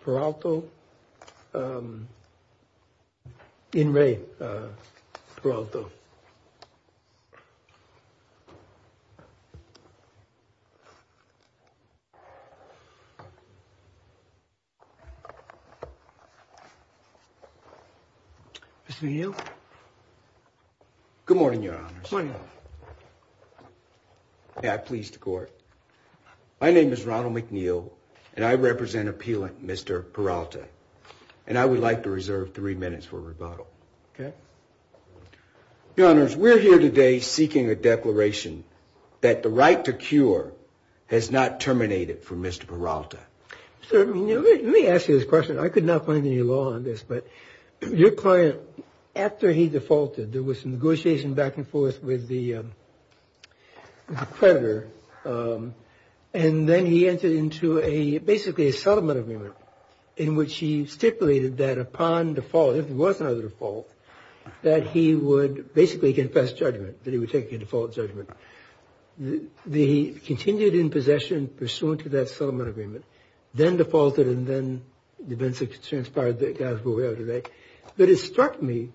Peralta in Ray Peralta. Good morning, your honor. My name is Ronald McNeil, and I represent appealant Mr. Peralta, and I would like to reserve three minutes for rebuttal. Okay. Gunners, we're here today seeking a declaration that the right to cure has not terminated for Mr. Peralta. Sir, let me ask you this question. I could not find any law on this. But your client, after he defaulted, there was some negotiation back and forth with the creditor. And then he entered into a basically a settlement agreement in which he stipulated that upon default, if there was another default, that he would basically confess judgment, that he would take a default judgment. He continued in possession pursuant to that settlement agreement, then defaulted, and then defense transpired, as God is aware of today. But it struck me,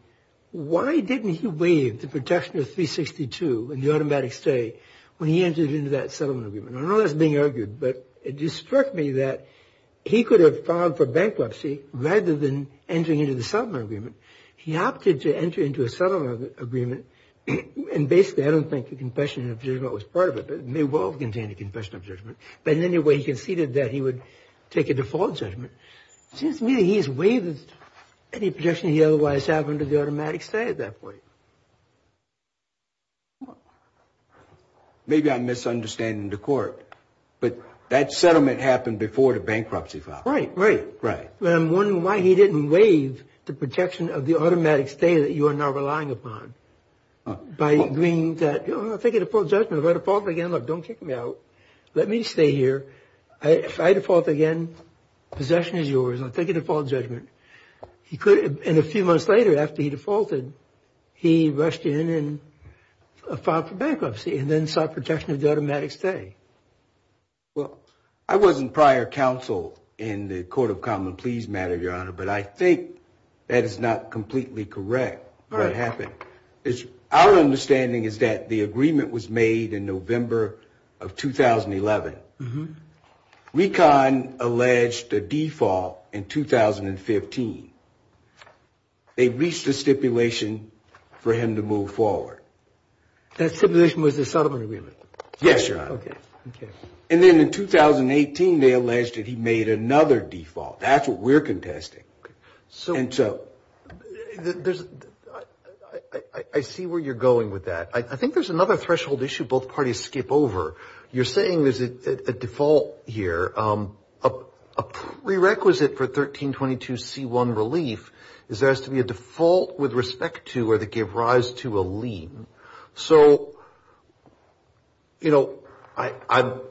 why didn't he waive the protection of 362 in the automatic stay when he entered into that settlement agreement? I know that's being argued, but it just struck me that he could have filed for bankruptcy rather than entering into the settlement agreement. He opted to enter into a settlement agreement. And basically, I don't think the confession of judgment was part of it, but it may well have contained a confession of judgment. But in any way, he conceded that he would take a default judgment. Seems to me that he's waived any protection he otherwise had under the automatic stay at that point. Maybe I'm misunderstanding the court, but that settlement happened before the bankruptcy file. Right, right. Right. But I'm wondering why he didn't waive the protection of the automatic stay that you are now relying upon. By agreeing that, oh, I'll take a default judgment, if I default again, look, don't kick me out. Let me stay here. If I default again, possession is yours. I'll take a default judgment. He could have, and a few months later, after he defaulted, he rushed in and filed for bankruptcy and then sought protection of the automatic stay. Well, I wasn't prior counsel in the Court of Common Pleas matter, Your Honor, but I think that is not completely correct, what happened. Our understanding is that the agreement was made in November of 2011. Recon alleged a default in 2015. They reached a stipulation for him to move forward. That stipulation was the settlement agreement? Yes, Your Honor. Okay, okay. And then in 2018, they alleged that he made another default. That's what we're contesting. So, I see where you're going with that. I think there's another threshold issue both parties skip over. You're saying there's a default here, a prerequisite for 1322C1 relief is there has to be a default with respect to or that give rise to a lien. So, you know, I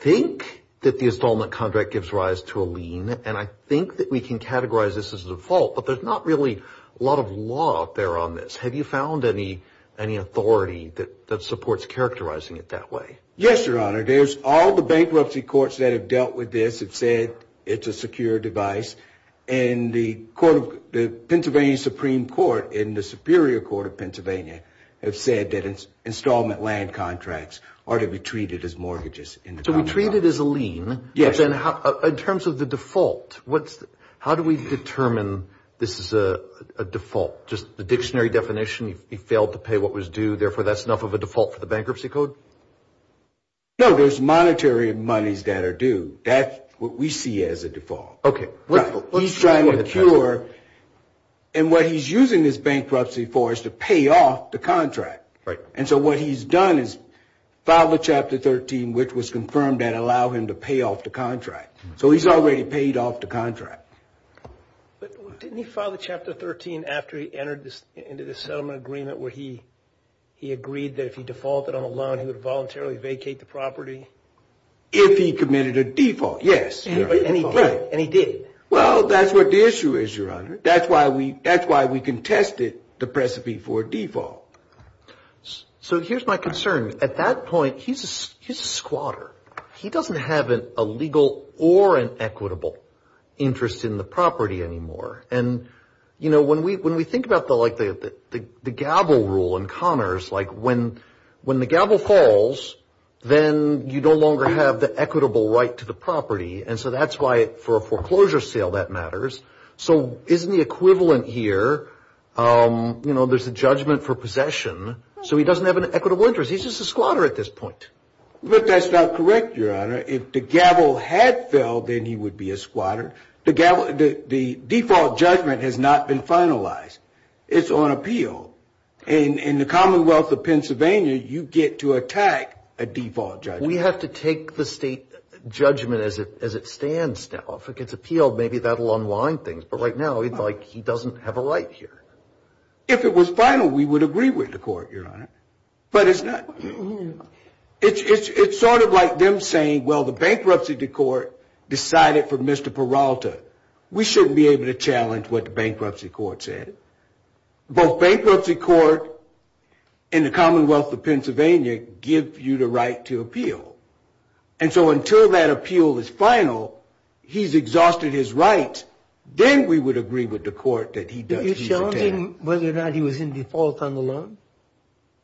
think that the installment contract gives rise to a lien, and I think that we can categorize this as a default, but there's not really a lot of law out there on this. Have you found any authority that supports characterizing it that way? Yes, Your Honor. There's all the bankruptcy courts that have dealt with this have said it's a secure device. And the Pennsylvania Supreme Court and the Superior Court of Pennsylvania have said that installment land contracts ought to be treated as mortgages in the contract. So, we treat it as a lien. Yes. In terms of the default, how do we determine this is a default? Just the dictionary definition, he failed to pay what was due, therefore, that's enough of a default for the bankruptcy code? No, there's monetary monies that are due. That's what we see as a default. Okay. He's trying to procure, and what he's using this bankruptcy for is to pay off the contract. Right. And so, what he's done is filed a Chapter 13, which was confirmed that allowed him to pay off the contract. So, he's already paid off the contract. But didn't he file a Chapter 13 after he entered into this settlement agreement where he agreed that if he defaulted on a loan, he would voluntarily vacate the property? If he committed a default, yes. Right. And he did. Well, that's what the issue is, Your Honor. That's why we contested the precipice for a default. So, here's my concern. At that point, he's a squatter. He doesn't have a legal or an equitable interest in the property anymore. And, you know, when we think about, like, the gavel rule in Connors, like, when the gavel falls, then you no longer have the equitable right to the property. And so, that's why, for a foreclosure sale, that matters. So, isn't the equivalent here, you know, there's a judgment for possession. So, he doesn't have an equitable interest. He's just a squatter at this point. But that's not correct, Your Honor. If the gavel had fell, then he would be a squatter. The default judgment has not been finalized. It's on appeal. In the Commonwealth of Pennsylvania, you get to attack a default judgment. We have to take the state judgment as it stands now. If it gets appealed, maybe that will unwind things. But right now, it's like he doesn't have a right here. If it was final, we would agree with the court, Your Honor. But it's not. It's sort of like them saying, well, the bankruptcy court decided for Mr. Peralta. We shouldn't be able to challenge what the bankruptcy court said. Both bankruptcy court and the Commonwealth of Pennsylvania give you the right to appeal. And so, until that appeal is final, he's exhausted his right. Then we would agree with the court that he's detained. Are you challenging whether or not he was in default on the loan?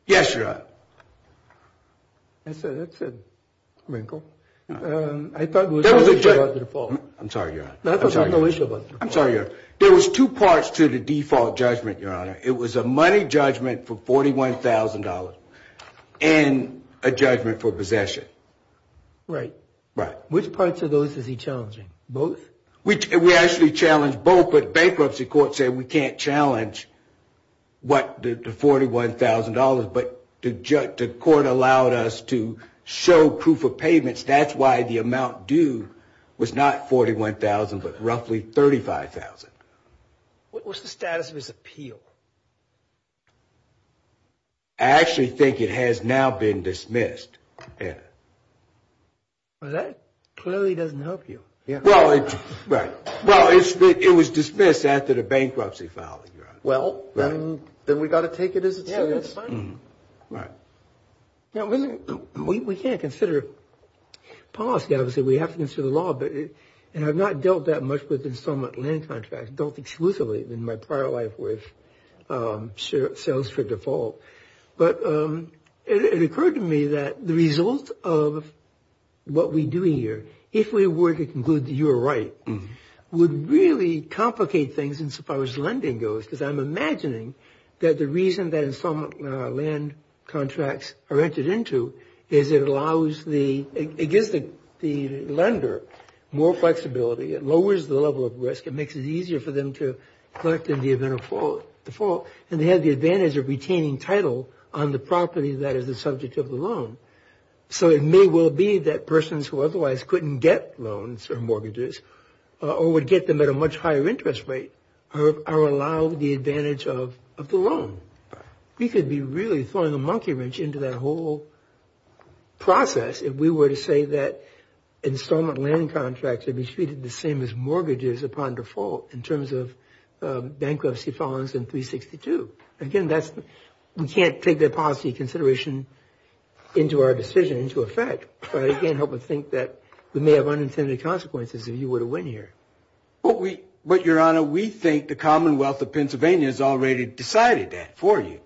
Yes, Your Honor. That's a wrinkle. I thought it was a wish upon the default. I'm sorry, Your Honor. I thought it was a wish upon the default. I'm sorry, Your Honor. There was two parts to the default judgment, Your Honor. It was a money judgment for $41,000 and a judgment for possession. Right. Right. Which parts of those is he challenging? Both? We actually challenged both. But bankruptcy court said we can't challenge the $41,000. But the court allowed us to show proof of payments. That's why the amount due was not $41,000 but roughly $35,000. What was the status of his appeal? I actually think it has now been dismissed. Well, that clearly doesn't help you. Well, it was dismissed after the bankruptcy filing, Your Honor. Well, then we've got to take it as it stands. Right. Now, we can't consider policy. Obviously, we have to consider the law. And I've not dealt that much with installment land contracts, dealt exclusively in my prior life with sales for default. But it occurred to me that the result of what we do here, if we were to conclude that you were right, would really complicate things as far as lending goes because I'm imagining that the reason that installment land contracts are entered into is it allows the – it gives the lender more flexibility. It lowers the level of risk. It makes it easier for them to collect in the event of default. And they have the advantage of retaining title on the property that is the subject of the loan. So it may well be that persons who otherwise couldn't get loans or mortgages or would get them at a much higher interest rate are allowed the advantage of the loan. We could be really throwing a monkey wrench into that whole process if we were to say that installment land contracts would be treated the same as mortgages upon default in terms of bankruptcy filings in 362. Again, that's – we can't take that policy consideration into our decision, into effect. But it can't help but think that we may have unintended consequences if you were to win here. But we – but, Your Honor, we think the Commonwealth of Pennsylvania has already decided that for you.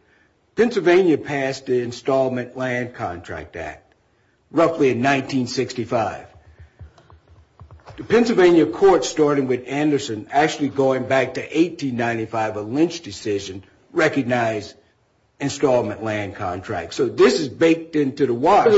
Pennsylvania passed the Installment Land Contract Act roughly in 1965. The Pennsylvania court, starting with Anderson, actually going back to 1895, a lynch decision, recognized installment land contracts. So this is baked into the wash in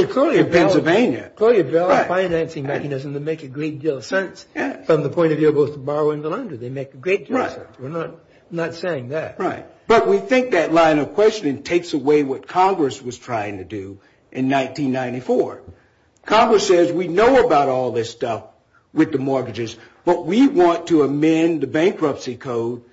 Pennsylvania. But the Collier-Bell financing mechanism, they make a great deal of sense. Yes. From the point of view of both borrowing and lending, they make a great deal of sense. Right. We're not saying that. Right. But we think that line of questioning takes away what Congress was trying to do in 1994. Congress says we know about all this stuff with the mortgages, but we want to amend the bankruptcy code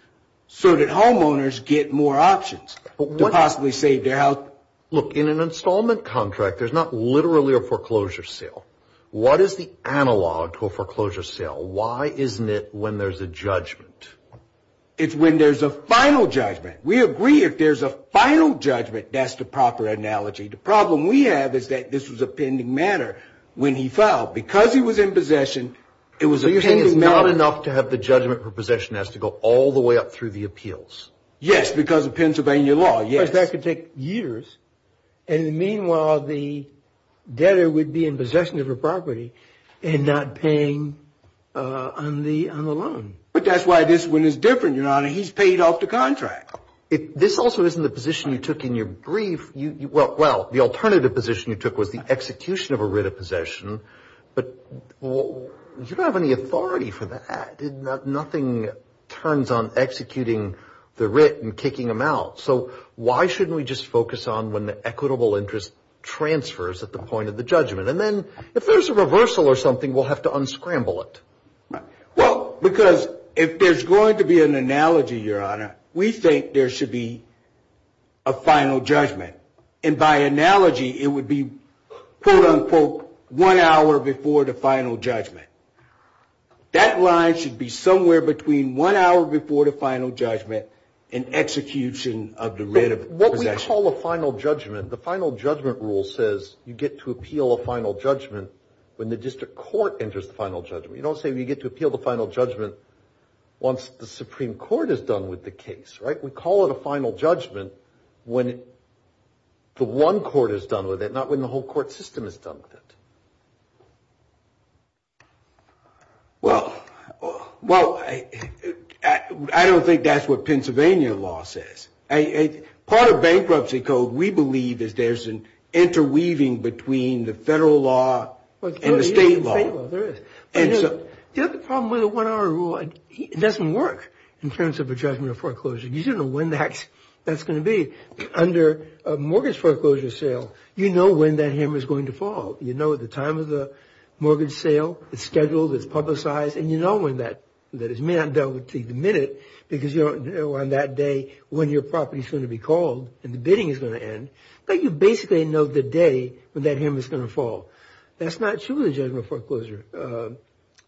so that homeowners get more options to possibly save their health. Right. Look, in an installment contract, there's not literally a foreclosure sale. What is the analog to a foreclosure sale? Why isn't it when there's a judgment? It's when there's a final judgment. We agree if there's a final judgment, that's the proper analogy. The problem we have is that this was a pending matter when he filed. Because he was in possession, it was a pending matter. So you're saying it's not enough to have the judgment for possession has to go all the way up through the appeals? Yes, because of Pennsylvania law, yes. Because that could take years. And meanwhile, the debtor would be in possession of a property and not paying on the loan. But that's why this one is different, Your Honor. He's paid off the contract. This also isn't the position you took in your brief. Well, the alternative position you took was the execution of a writ of possession. But you don't have any authority for that. Nothing turns on executing the writ and kicking them out. So why shouldn't we just focus on when the equitable interest transfers at the point of the judgment? And then if there's a reversal or something, we'll have to unscramble it. Well, because if there's going to be an analogy, Your Honor, we think there should be a final judgment. And by analogy, it would be, quote, unquote, one hour before the final judgment. That line should be somewhere between one hour before the final judgment and execution of the writ of possession. What we call a final judgment, the final judgment rule says you get to appeal a final judgment when the district court enters the final judgment. You don't say you get to appeal the final judgment once the Supreme Court is done with the case, right? We call it a final judgment when the one court is done with it, not when the whole court system is done with it. Well, I don't think that's what Pennsylvania law says. Part of bankruptcy code, we believe, is there's an interweaving between the federal law and the state law. There is. The other problem with the one hour rule, it doesn't work in terms of a judgment of foreclosure. You don't know when that's going to be. Under a mortgage foreclosure sale, you know when that hammer is going to fall. You know the time of the mortgage sale. It's scheduled. It's publicized. And you know when that is. You may not know until the minute because you don't know on that day when your property is going to be called and the bidding is going to end. But you basically know the day when that hammer is going to fall. That's not true with a judgment of foreclosure.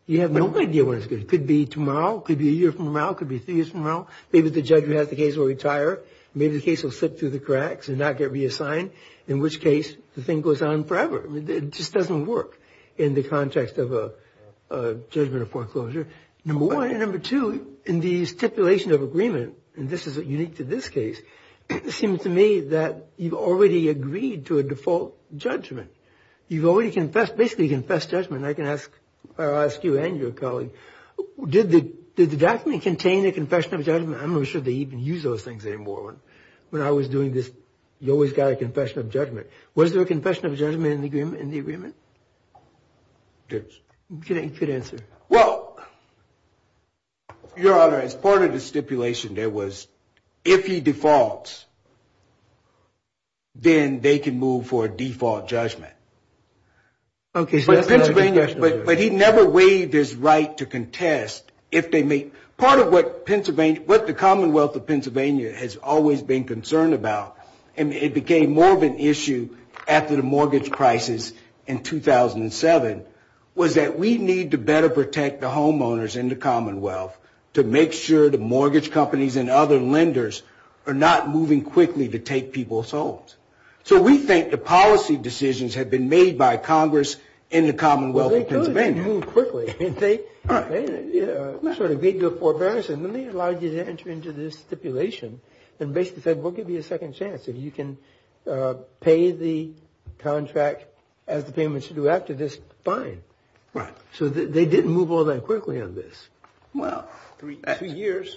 You have no idea when it's going to be. It could be tomorrow. It could be a year from now. It could be three years from now. Maybe the judge who has the case will retire. Maybe the case will slip through the cracks and not get reassigned, in which case the thing goes on forever. It just doesn't work in the context of a judgment of foreclosure, number one. And number two, in the stipulation of agreement, and this is unique to this case, it seems to me that you've already agreed to a default judgment. You've already confessed, basically confessed judgment. I can ask you and your colleague, did the document contain a confession of judgment? I'm not sure they even use those things anymore. When I was doing this, you always got a confession of judgment. Was there a confession of judgment in the agreement? You could answer. Well, Your Honor, as part of the stipulation, there was, if he defaults, then they can move for a default judgment. But he never waived his right to contest. Part of what the Commonwealth of Pennsylvania has always been concerned about, and it became more of an issue after the mortgage crisis in 2007, was that we need to better protect the homeowners in the Commonwealth to make sure the mortgage companies and other lenders are not moving quickly to take people's homes. So we think the policy decisions have been made by Congress in the Commonwealth of Pennsylvania. Well, they told you to move quickly. They sort of gave you a forbearance, and then they allowed you to enter into this stipulation and basically said, we'll give you a second chance. If you can pay the contract as the payment should do after this, fine. Right. So they didn't move all that quickly on this. Well. Two years.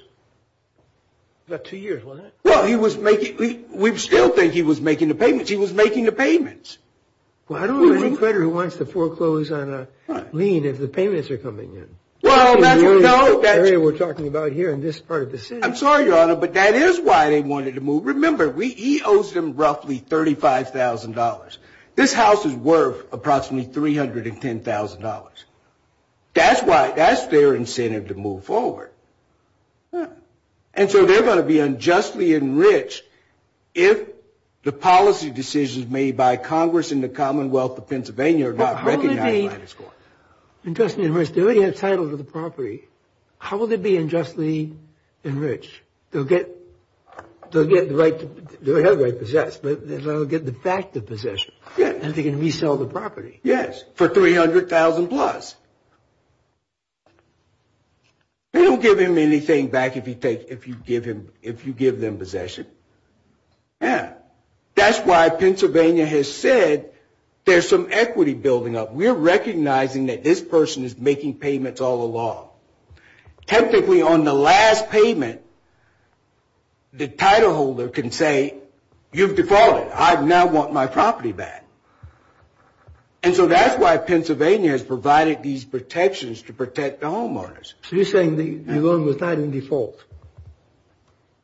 About two years, wasn't it? Well, he was making, we still think he was making the payments. He was making the payments. Well, I don't know any creditor who wants to foreclose on a lien if the payments are coming in. Well, that's, no. The area we're talking about here in this part of the city. I'm sorry, Your Honor, but that is why they wanted to move. Remember, he owes them roughly $35,000. This house is worth approximately $310,000. That's why, that's their incentive to move forward. And so they're going to be unjustly enriched if the policy decisions made by Congress in the Commonwealth of Pennsylvania are not recognized by this court. How will they be unjustly enriched? They already have title to the property. How will they be unjustly enriched? They'll get, they'll get the right, they already have the right to possess, but they'll get the fact of possession. Yeah. And they can resell the property. Yes, for $300,000 plus. They don't give him anything back if you give them possession. Yeah. That's why Pennsylvania has said there's some equity building up. We're recognizing that this person is making payments all along. Technically, on the last payment, the title holder can say, you've defaulted. I now want my property back. And so that's why Pennsylvania has provided these protections to protect the homeowners. So you're saying the loan was not in default.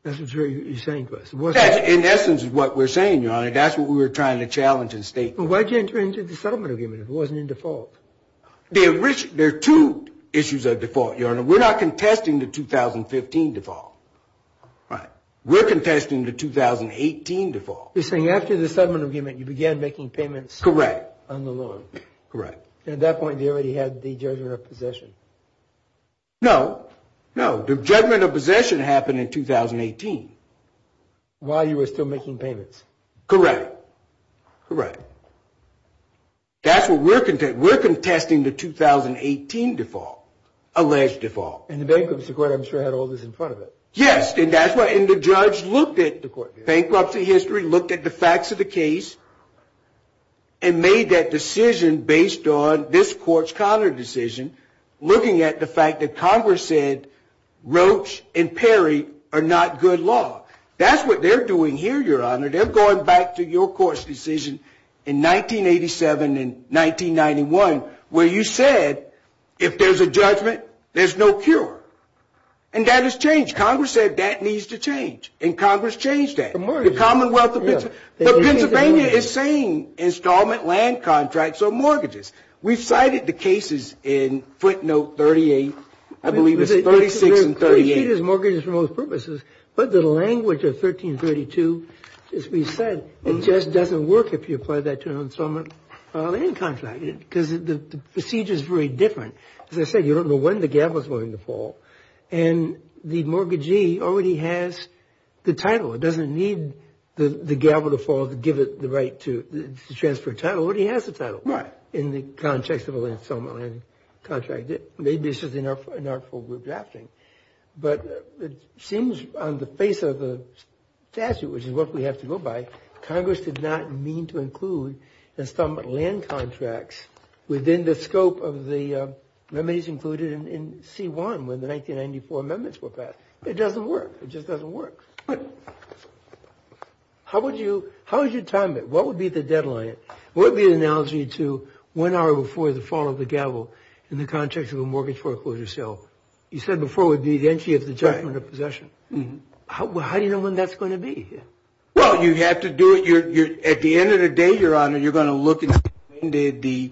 That's what you're saying to us. In essence is what we're saying, Your Honor. That's what we were trying to challenge and state. Why did you enter into the settlement agreement if it wasn't in default? There are two issues of default, Your Honor. We're not contesting the 2015 default. Right. We're contesting the 2018 default. You're saying after the settlement agreement, you began making payments. Correct. On the loan. Correct. And at that point, they already had the judgment of possession. No, no. The judgment of possession happened in 2018. While you were still making payments. Correct. Correct. That's what we're contesting. We're contesting the 2018 default. Alleged default. And the bankruptcy court, I'm sure, had all this in front of it. Yes. And that's why the judge looked at the bankruptcy history, looked at the facts of the case, and made that decision based on this court's counter decision, looking at the fact that Congress said Roach and Perry are not good law. That's what they're doing here, Your Honor. They're going back to your court's decision in 1987 and 1991, where you said if there's a judgment, there's no cure. And that has changed. Congress said that needs to change. And Congress changed that. The mortgages. The Commonwealth of Pennsylvania. The Pennsylvania is saying installment land contracts are mortgages. We've cited the cases in footnote 38, I believe it's 36 and 38. But the language of 1332, as we said, it just doesn't work if you apply that to an installment land contract. Because the procedure is very different. As I said, you don't know when the gavel is going to fall. And the mortgagee already has the title. It doesn't need the gavel to fall to give it the right to transfer title. It already has the title. Right. In the context of an installment land contract. Maybe this is an artful way of drafting. But it seems on the face of the statute, which is what we have to go by, Congress did not mean to include installment land contracts within the scope of the remedies included in C1, when the 1994 amendments were passed. It doesn't work. It just doesn't work. How would you time it? What would be the deadline? What would be the analogy to one hour before the fall of the gavel in the context of a mortgage foreclosure sale? You said before it would be the entry of the judgment of possession. How do you know when that's going to be? Well, you have to do it. At the end of the day, Your Honor, you're going to look and see when did the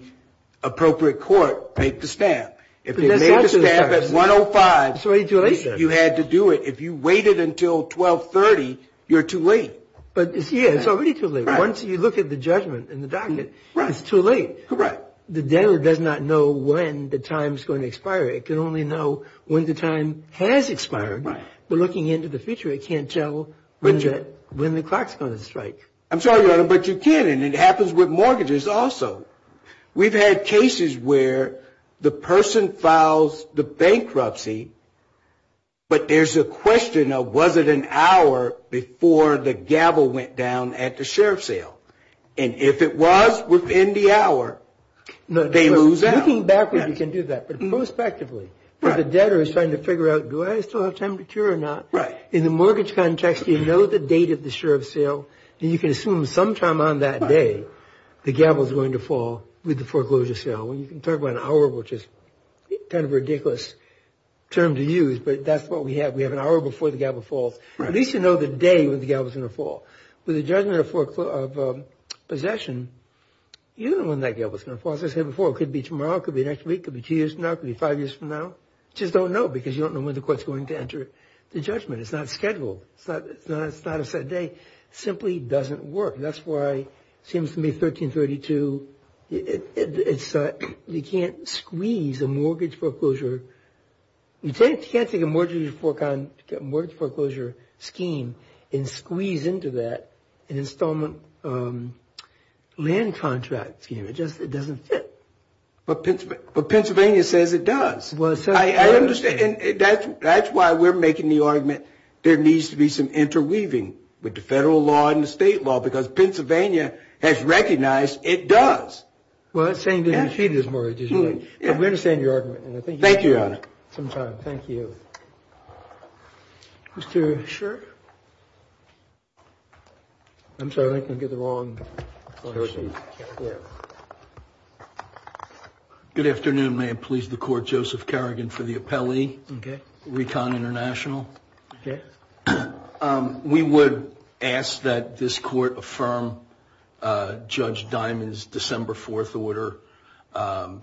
appropriate court make the stamp. If they made the stamp at 105, you had to do it. If you waited until 1230, you're too late. Yeah, it's already too late. Once you look at the judgment in the docket, it's too late. Correct. The debtor does not know when the time's going to expire. It can only know when the time has expired. But looking into the future, it can't tell when the clock's going to strike. I'm sorry, Your Honor, but you can. And it happens with mortgages also. We've had cases where the person files the bankruptcy, but there's a question of was it an hour before the gavel went down at the sheriff's sale? And if it was within the hour, they lose out. Looking backwards, you can do that. But prospectively, the debtor is trying to figure out do I still have time to cure or not? Right. In the mortgage context, you know the date of the sheriff's sale, and you can assume sometime on that day, the gavel's going to fall with the foreclosure sale. You can talk about an hour, which is kind of a ridiculous term to use, but that's what we have. We have an hour before the gavel falls. At least you know the day when the gavel's going to fall. With a judgment of possession, you don't know when that gavel's going to fall. As I said before, it could be tomorrow. It could be next week. It could be two years from now. It could be five years from now. You just don't know because you don't know when the court's going to enter the judgment. It's not scheduled. It's not a set day. It simply doesn't work. That's why it seems to me 1332, you can't squeeze a mortgage foreclosure. You can't take a mortgage foreclosure scheme and squeeze into that an installment land contract scheme. It just doesn't fit. But Pennsylvania says it does. I understand. That's why we're making the argument there needs to be some interweaving with the federal law and the state law because Pennsylvania has recognized it does. Well, the same thing is true with mortgages. We understand your argument. Thank you, Your Honor. Thank you. Mr. Shirk? I'm sorry, I think I got the wrong question. Good afternoon. May it please the Court, Joseph Kerrigan for the appellee. Okay. Recon International. Okay. We would ask that this Court affirm Judge Diamond's December 4th order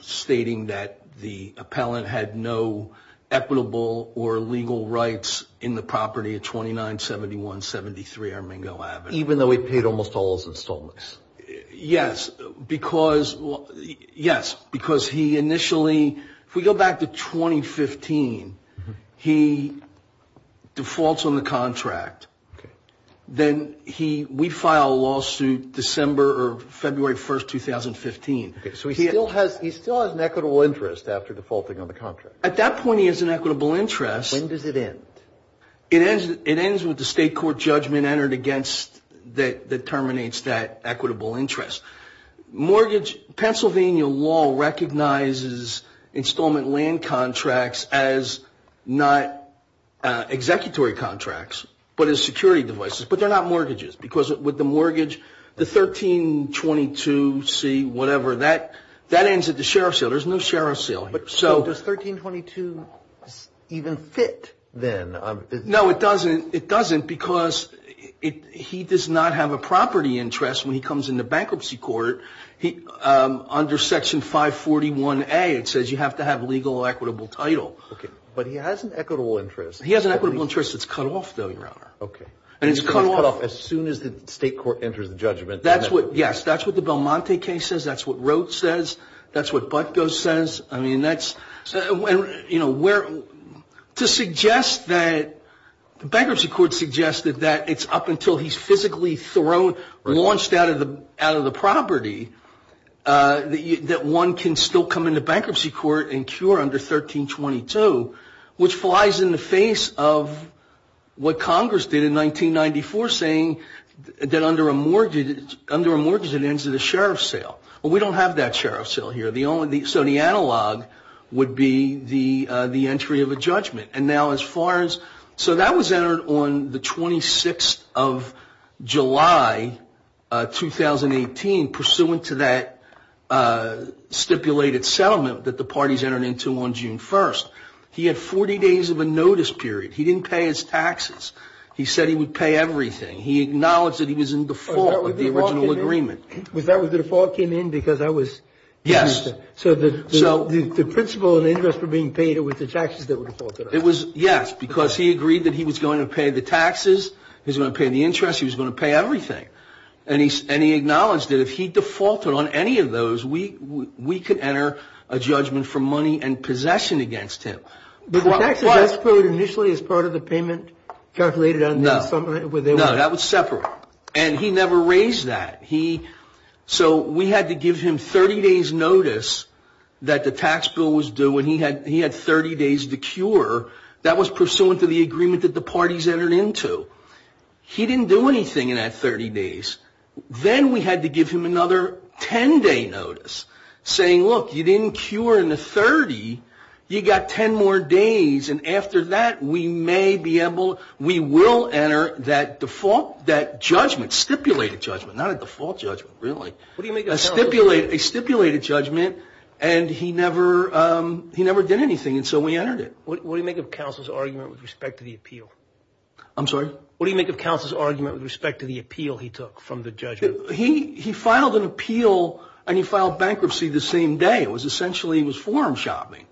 stating that the appellant had no equitable or legal rights in the property of 297173 Armingo Avenue. Even though he paid almost all his installments? Yes, because he initially, if we go back to 2015, he defaults on the contract. Then we file a lawsuit December or February 1st, 2015. Okay. So he still has an equitable interest after defaulting on the contract? At that point he has an equitable interest. When does it end? It ends with the state court judgment entered against that terminates that equitable interest. Mortgage, Pennsylvania law recognizes installment land contracts as not executory contracts, but as security devices. But they're not mortgages, because with the mortgage, the 1322C, whatever, that ends at the sheriff's seal. There's no sheriff's seal. So does 1322 even fit then? No, it doesn't. It doesn't, because he does not have a property interest when he comes into bankruptcy court. Under Section 541A, it says you have to have legal or equitable title. Okay. But he has an equitable interest. He has an equitable interest that's cut off, though, Your Honor. Okay. And it's cut off. And it's cut off as soon as the state court enters the judgment. That's what, yes, that's what the Belmonte case says. That's what Roth says. That's what Butko says. I mean, that's, you know, to suggest that the bankruptcy court suggested that it's up until he's physically thrown, launched out of the property, that one can still come into bankruptcy court and cure under 1322, which flies in the face of what Congress did in 1994, saying that under a mortgage it ends at a sheriff's seal. Well, we don't have that sheriff's seal here. So the analog would be the entry of a judgment. And now as far as so that was entered on the 26th of July, 2018, pursuant to that stipulated settlement that the parties entered into on June 1st. He had 40 days of a notice period. He didn't pay his taxes. He said he would pay everything. He acknowledged that he was in default of the original agreement. Was that what the default came in? Because I was. Yes. So the principal and interest were being paid with the taxes that were defaulted. It was. Yes. Because he agreed that he was going to pay the taxes. He's going to pay the interest. He was going to pay everything. And he and he acknowledged that if he defaulted on any of those, we we could enter a judgment for money and possession against him. But the taxes were initially as part of the payment calculated. No. No, that was separate. And he never raised that. He so we had to give him 30 days notice that the tax bill was due when he had he had 30 days to cure. That was pursuant to the agreement that the parties entered into. He didn't do anything in that 30 days. Then we had to give him another 10 day notice saying, look, you didn't cure in the 30. You got 10 more days. And after that, we may be able we will enter that default, that judgment stipulated judgment, not a default judgment. Really. What do you make a stipulated a stipulated judgment? And he never he never did anything. And so we entered it. What do you make of counsel's argument with respect to the appeal? I'm sorry. What do you make of counsel's argument with respect to the appeal? He took from the judge. He he filed an appeal and he filed bankruptcy the same day. It was essentially he was forum shopping.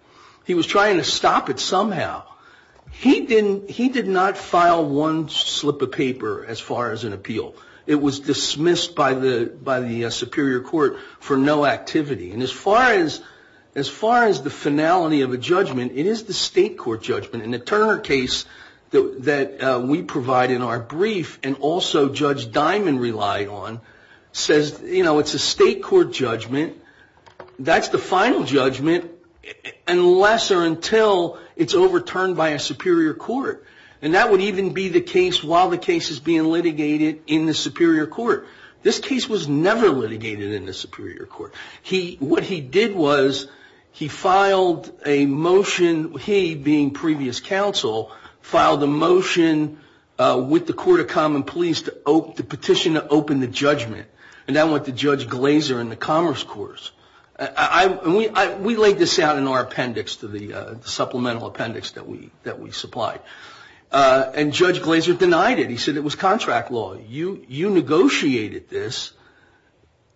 He was trying to stop it somehow. He didn't. He did not file one slip of paper as far as an appeal. It was dismissed by the by the Superior Court for no activity. And as far as as far as the finality of a judgment, it is the state court judgment. And the Turner case that we provide in our brief and also Judge Diamond relied on says, you know, it's a state court judgment. That's the final judgment unless or until it's overturned by a superior court. And that would even be the case while the case is being litigated in the superior court. This case was never litigated in the superior court. He what he did was he filed a motion. He, being previous counsel, filed a motion with the Court of Common Pleas to the petition to open the judgment. And that went to Judge Glazer in the Commerce Course. I mean, we laid this out in our appendix to the supplemental appendix that we that we supplied. And Judge Glazer denied it. He said it was contract law. You you negotiated this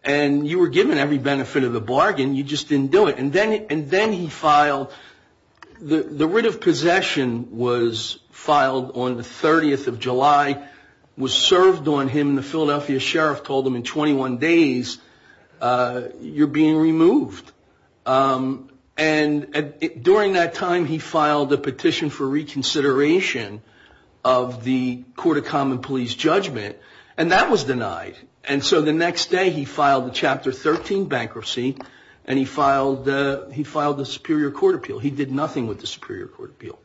and you were given every benefit of the bargain. You just didn't do it. And then and then he filed the writ of possession was filed on the 30th of July, was served on him. And the Philadelphia sheriff told him in 21 days you're being removed. And during that time, he filed a petition for reconsideration of the Court of Common Pleas judgment. And that was denied. And so the next day he filed the Chapter 13 bankruptcy and he filed the he filed the superior court appeal. He did nothing with the superior court appeal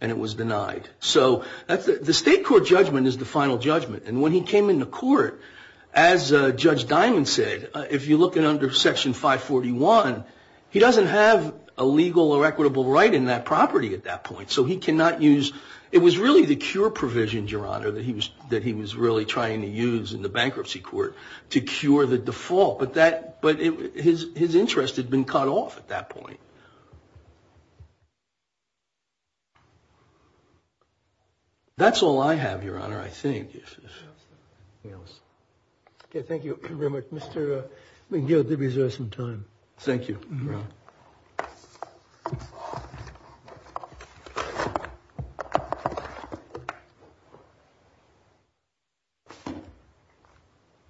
and it was denied. So that's the state court judgment is the final judgment. And when he came in the court, as Judge Diamond said, if you look at under Section 541, he doesn't have a legal or equitable right in that property at that point. So he cannot use. It was really the cure provision, Your Honor, that he was that he was really trying to use in the bankruptcy court to cure the default. But that but his his interest had been cut off at that point. That's all I have, Your Honor, I think. Yes. Thank you very much, Mr. McGill, to reserve some time. Thank you.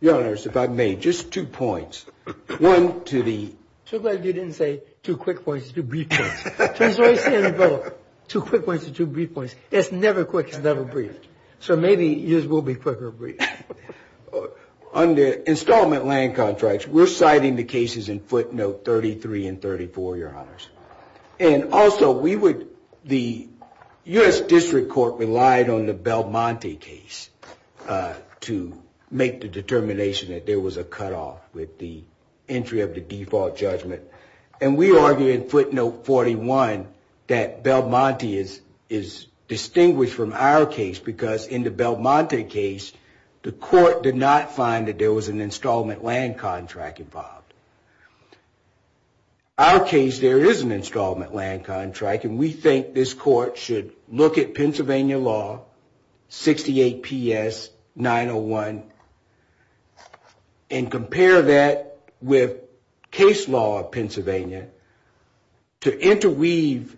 Your Honor, if I may, just two points. One to the. So glad you didn't say two quick points, two brief points. Two quick points, two brief points. It's never quick, it's never brief. So maybe yours will be quicker. Under installment land contracts, we're citing the cases in footnote 33 and 34, Your Honors. And also we would the U.S. District Court relied on the Belmonte case to make the determination that there was a cutoff with the entry of the default judgment. And we argue in footnote 41 that Belmonte is distinguished from our case because in the Belmonte case, the court did not find that there was an installment land contract involved. Our case, there is an installment land contract. And we think this court should look at Pennsylvania law, 68PS901, and compare that with case law of Pennsylvania to interweave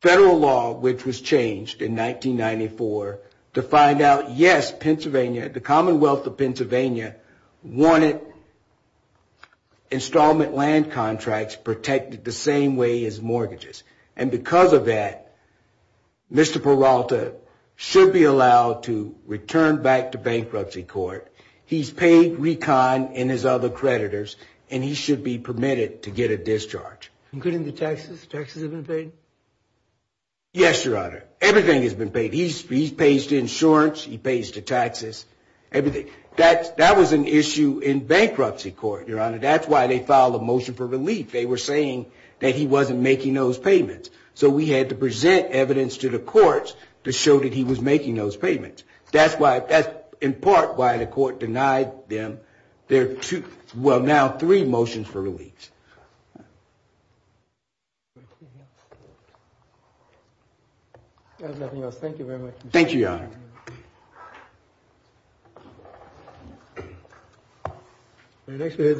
federal law, which was changed in 1994, to find out, yes, Pennsylvania, the Commonwealth of Pennsylvania wanted installment land contracts protected the same way as mortgages. And because of that, Mr. Peralta should be allowed to return back to bankruptcy court. He's paid recon and his other creditors, and he should be permitted to get a discharge. Including the taxes? Taxes have been paid? Yes, Your Honor. Everything has been paid. He pays the insurance, he pays the taxes, everything. That was an issue in bankruptcy court, Your Honor. That's why they filed a motion for relief. They were saying that he wasn't making those payments. So we had to present evidence to the courts to show that he was making those payments. That's in part why the court denied them their two, well, now three motions for relief. Thank you very much. Thank you, Your Honor.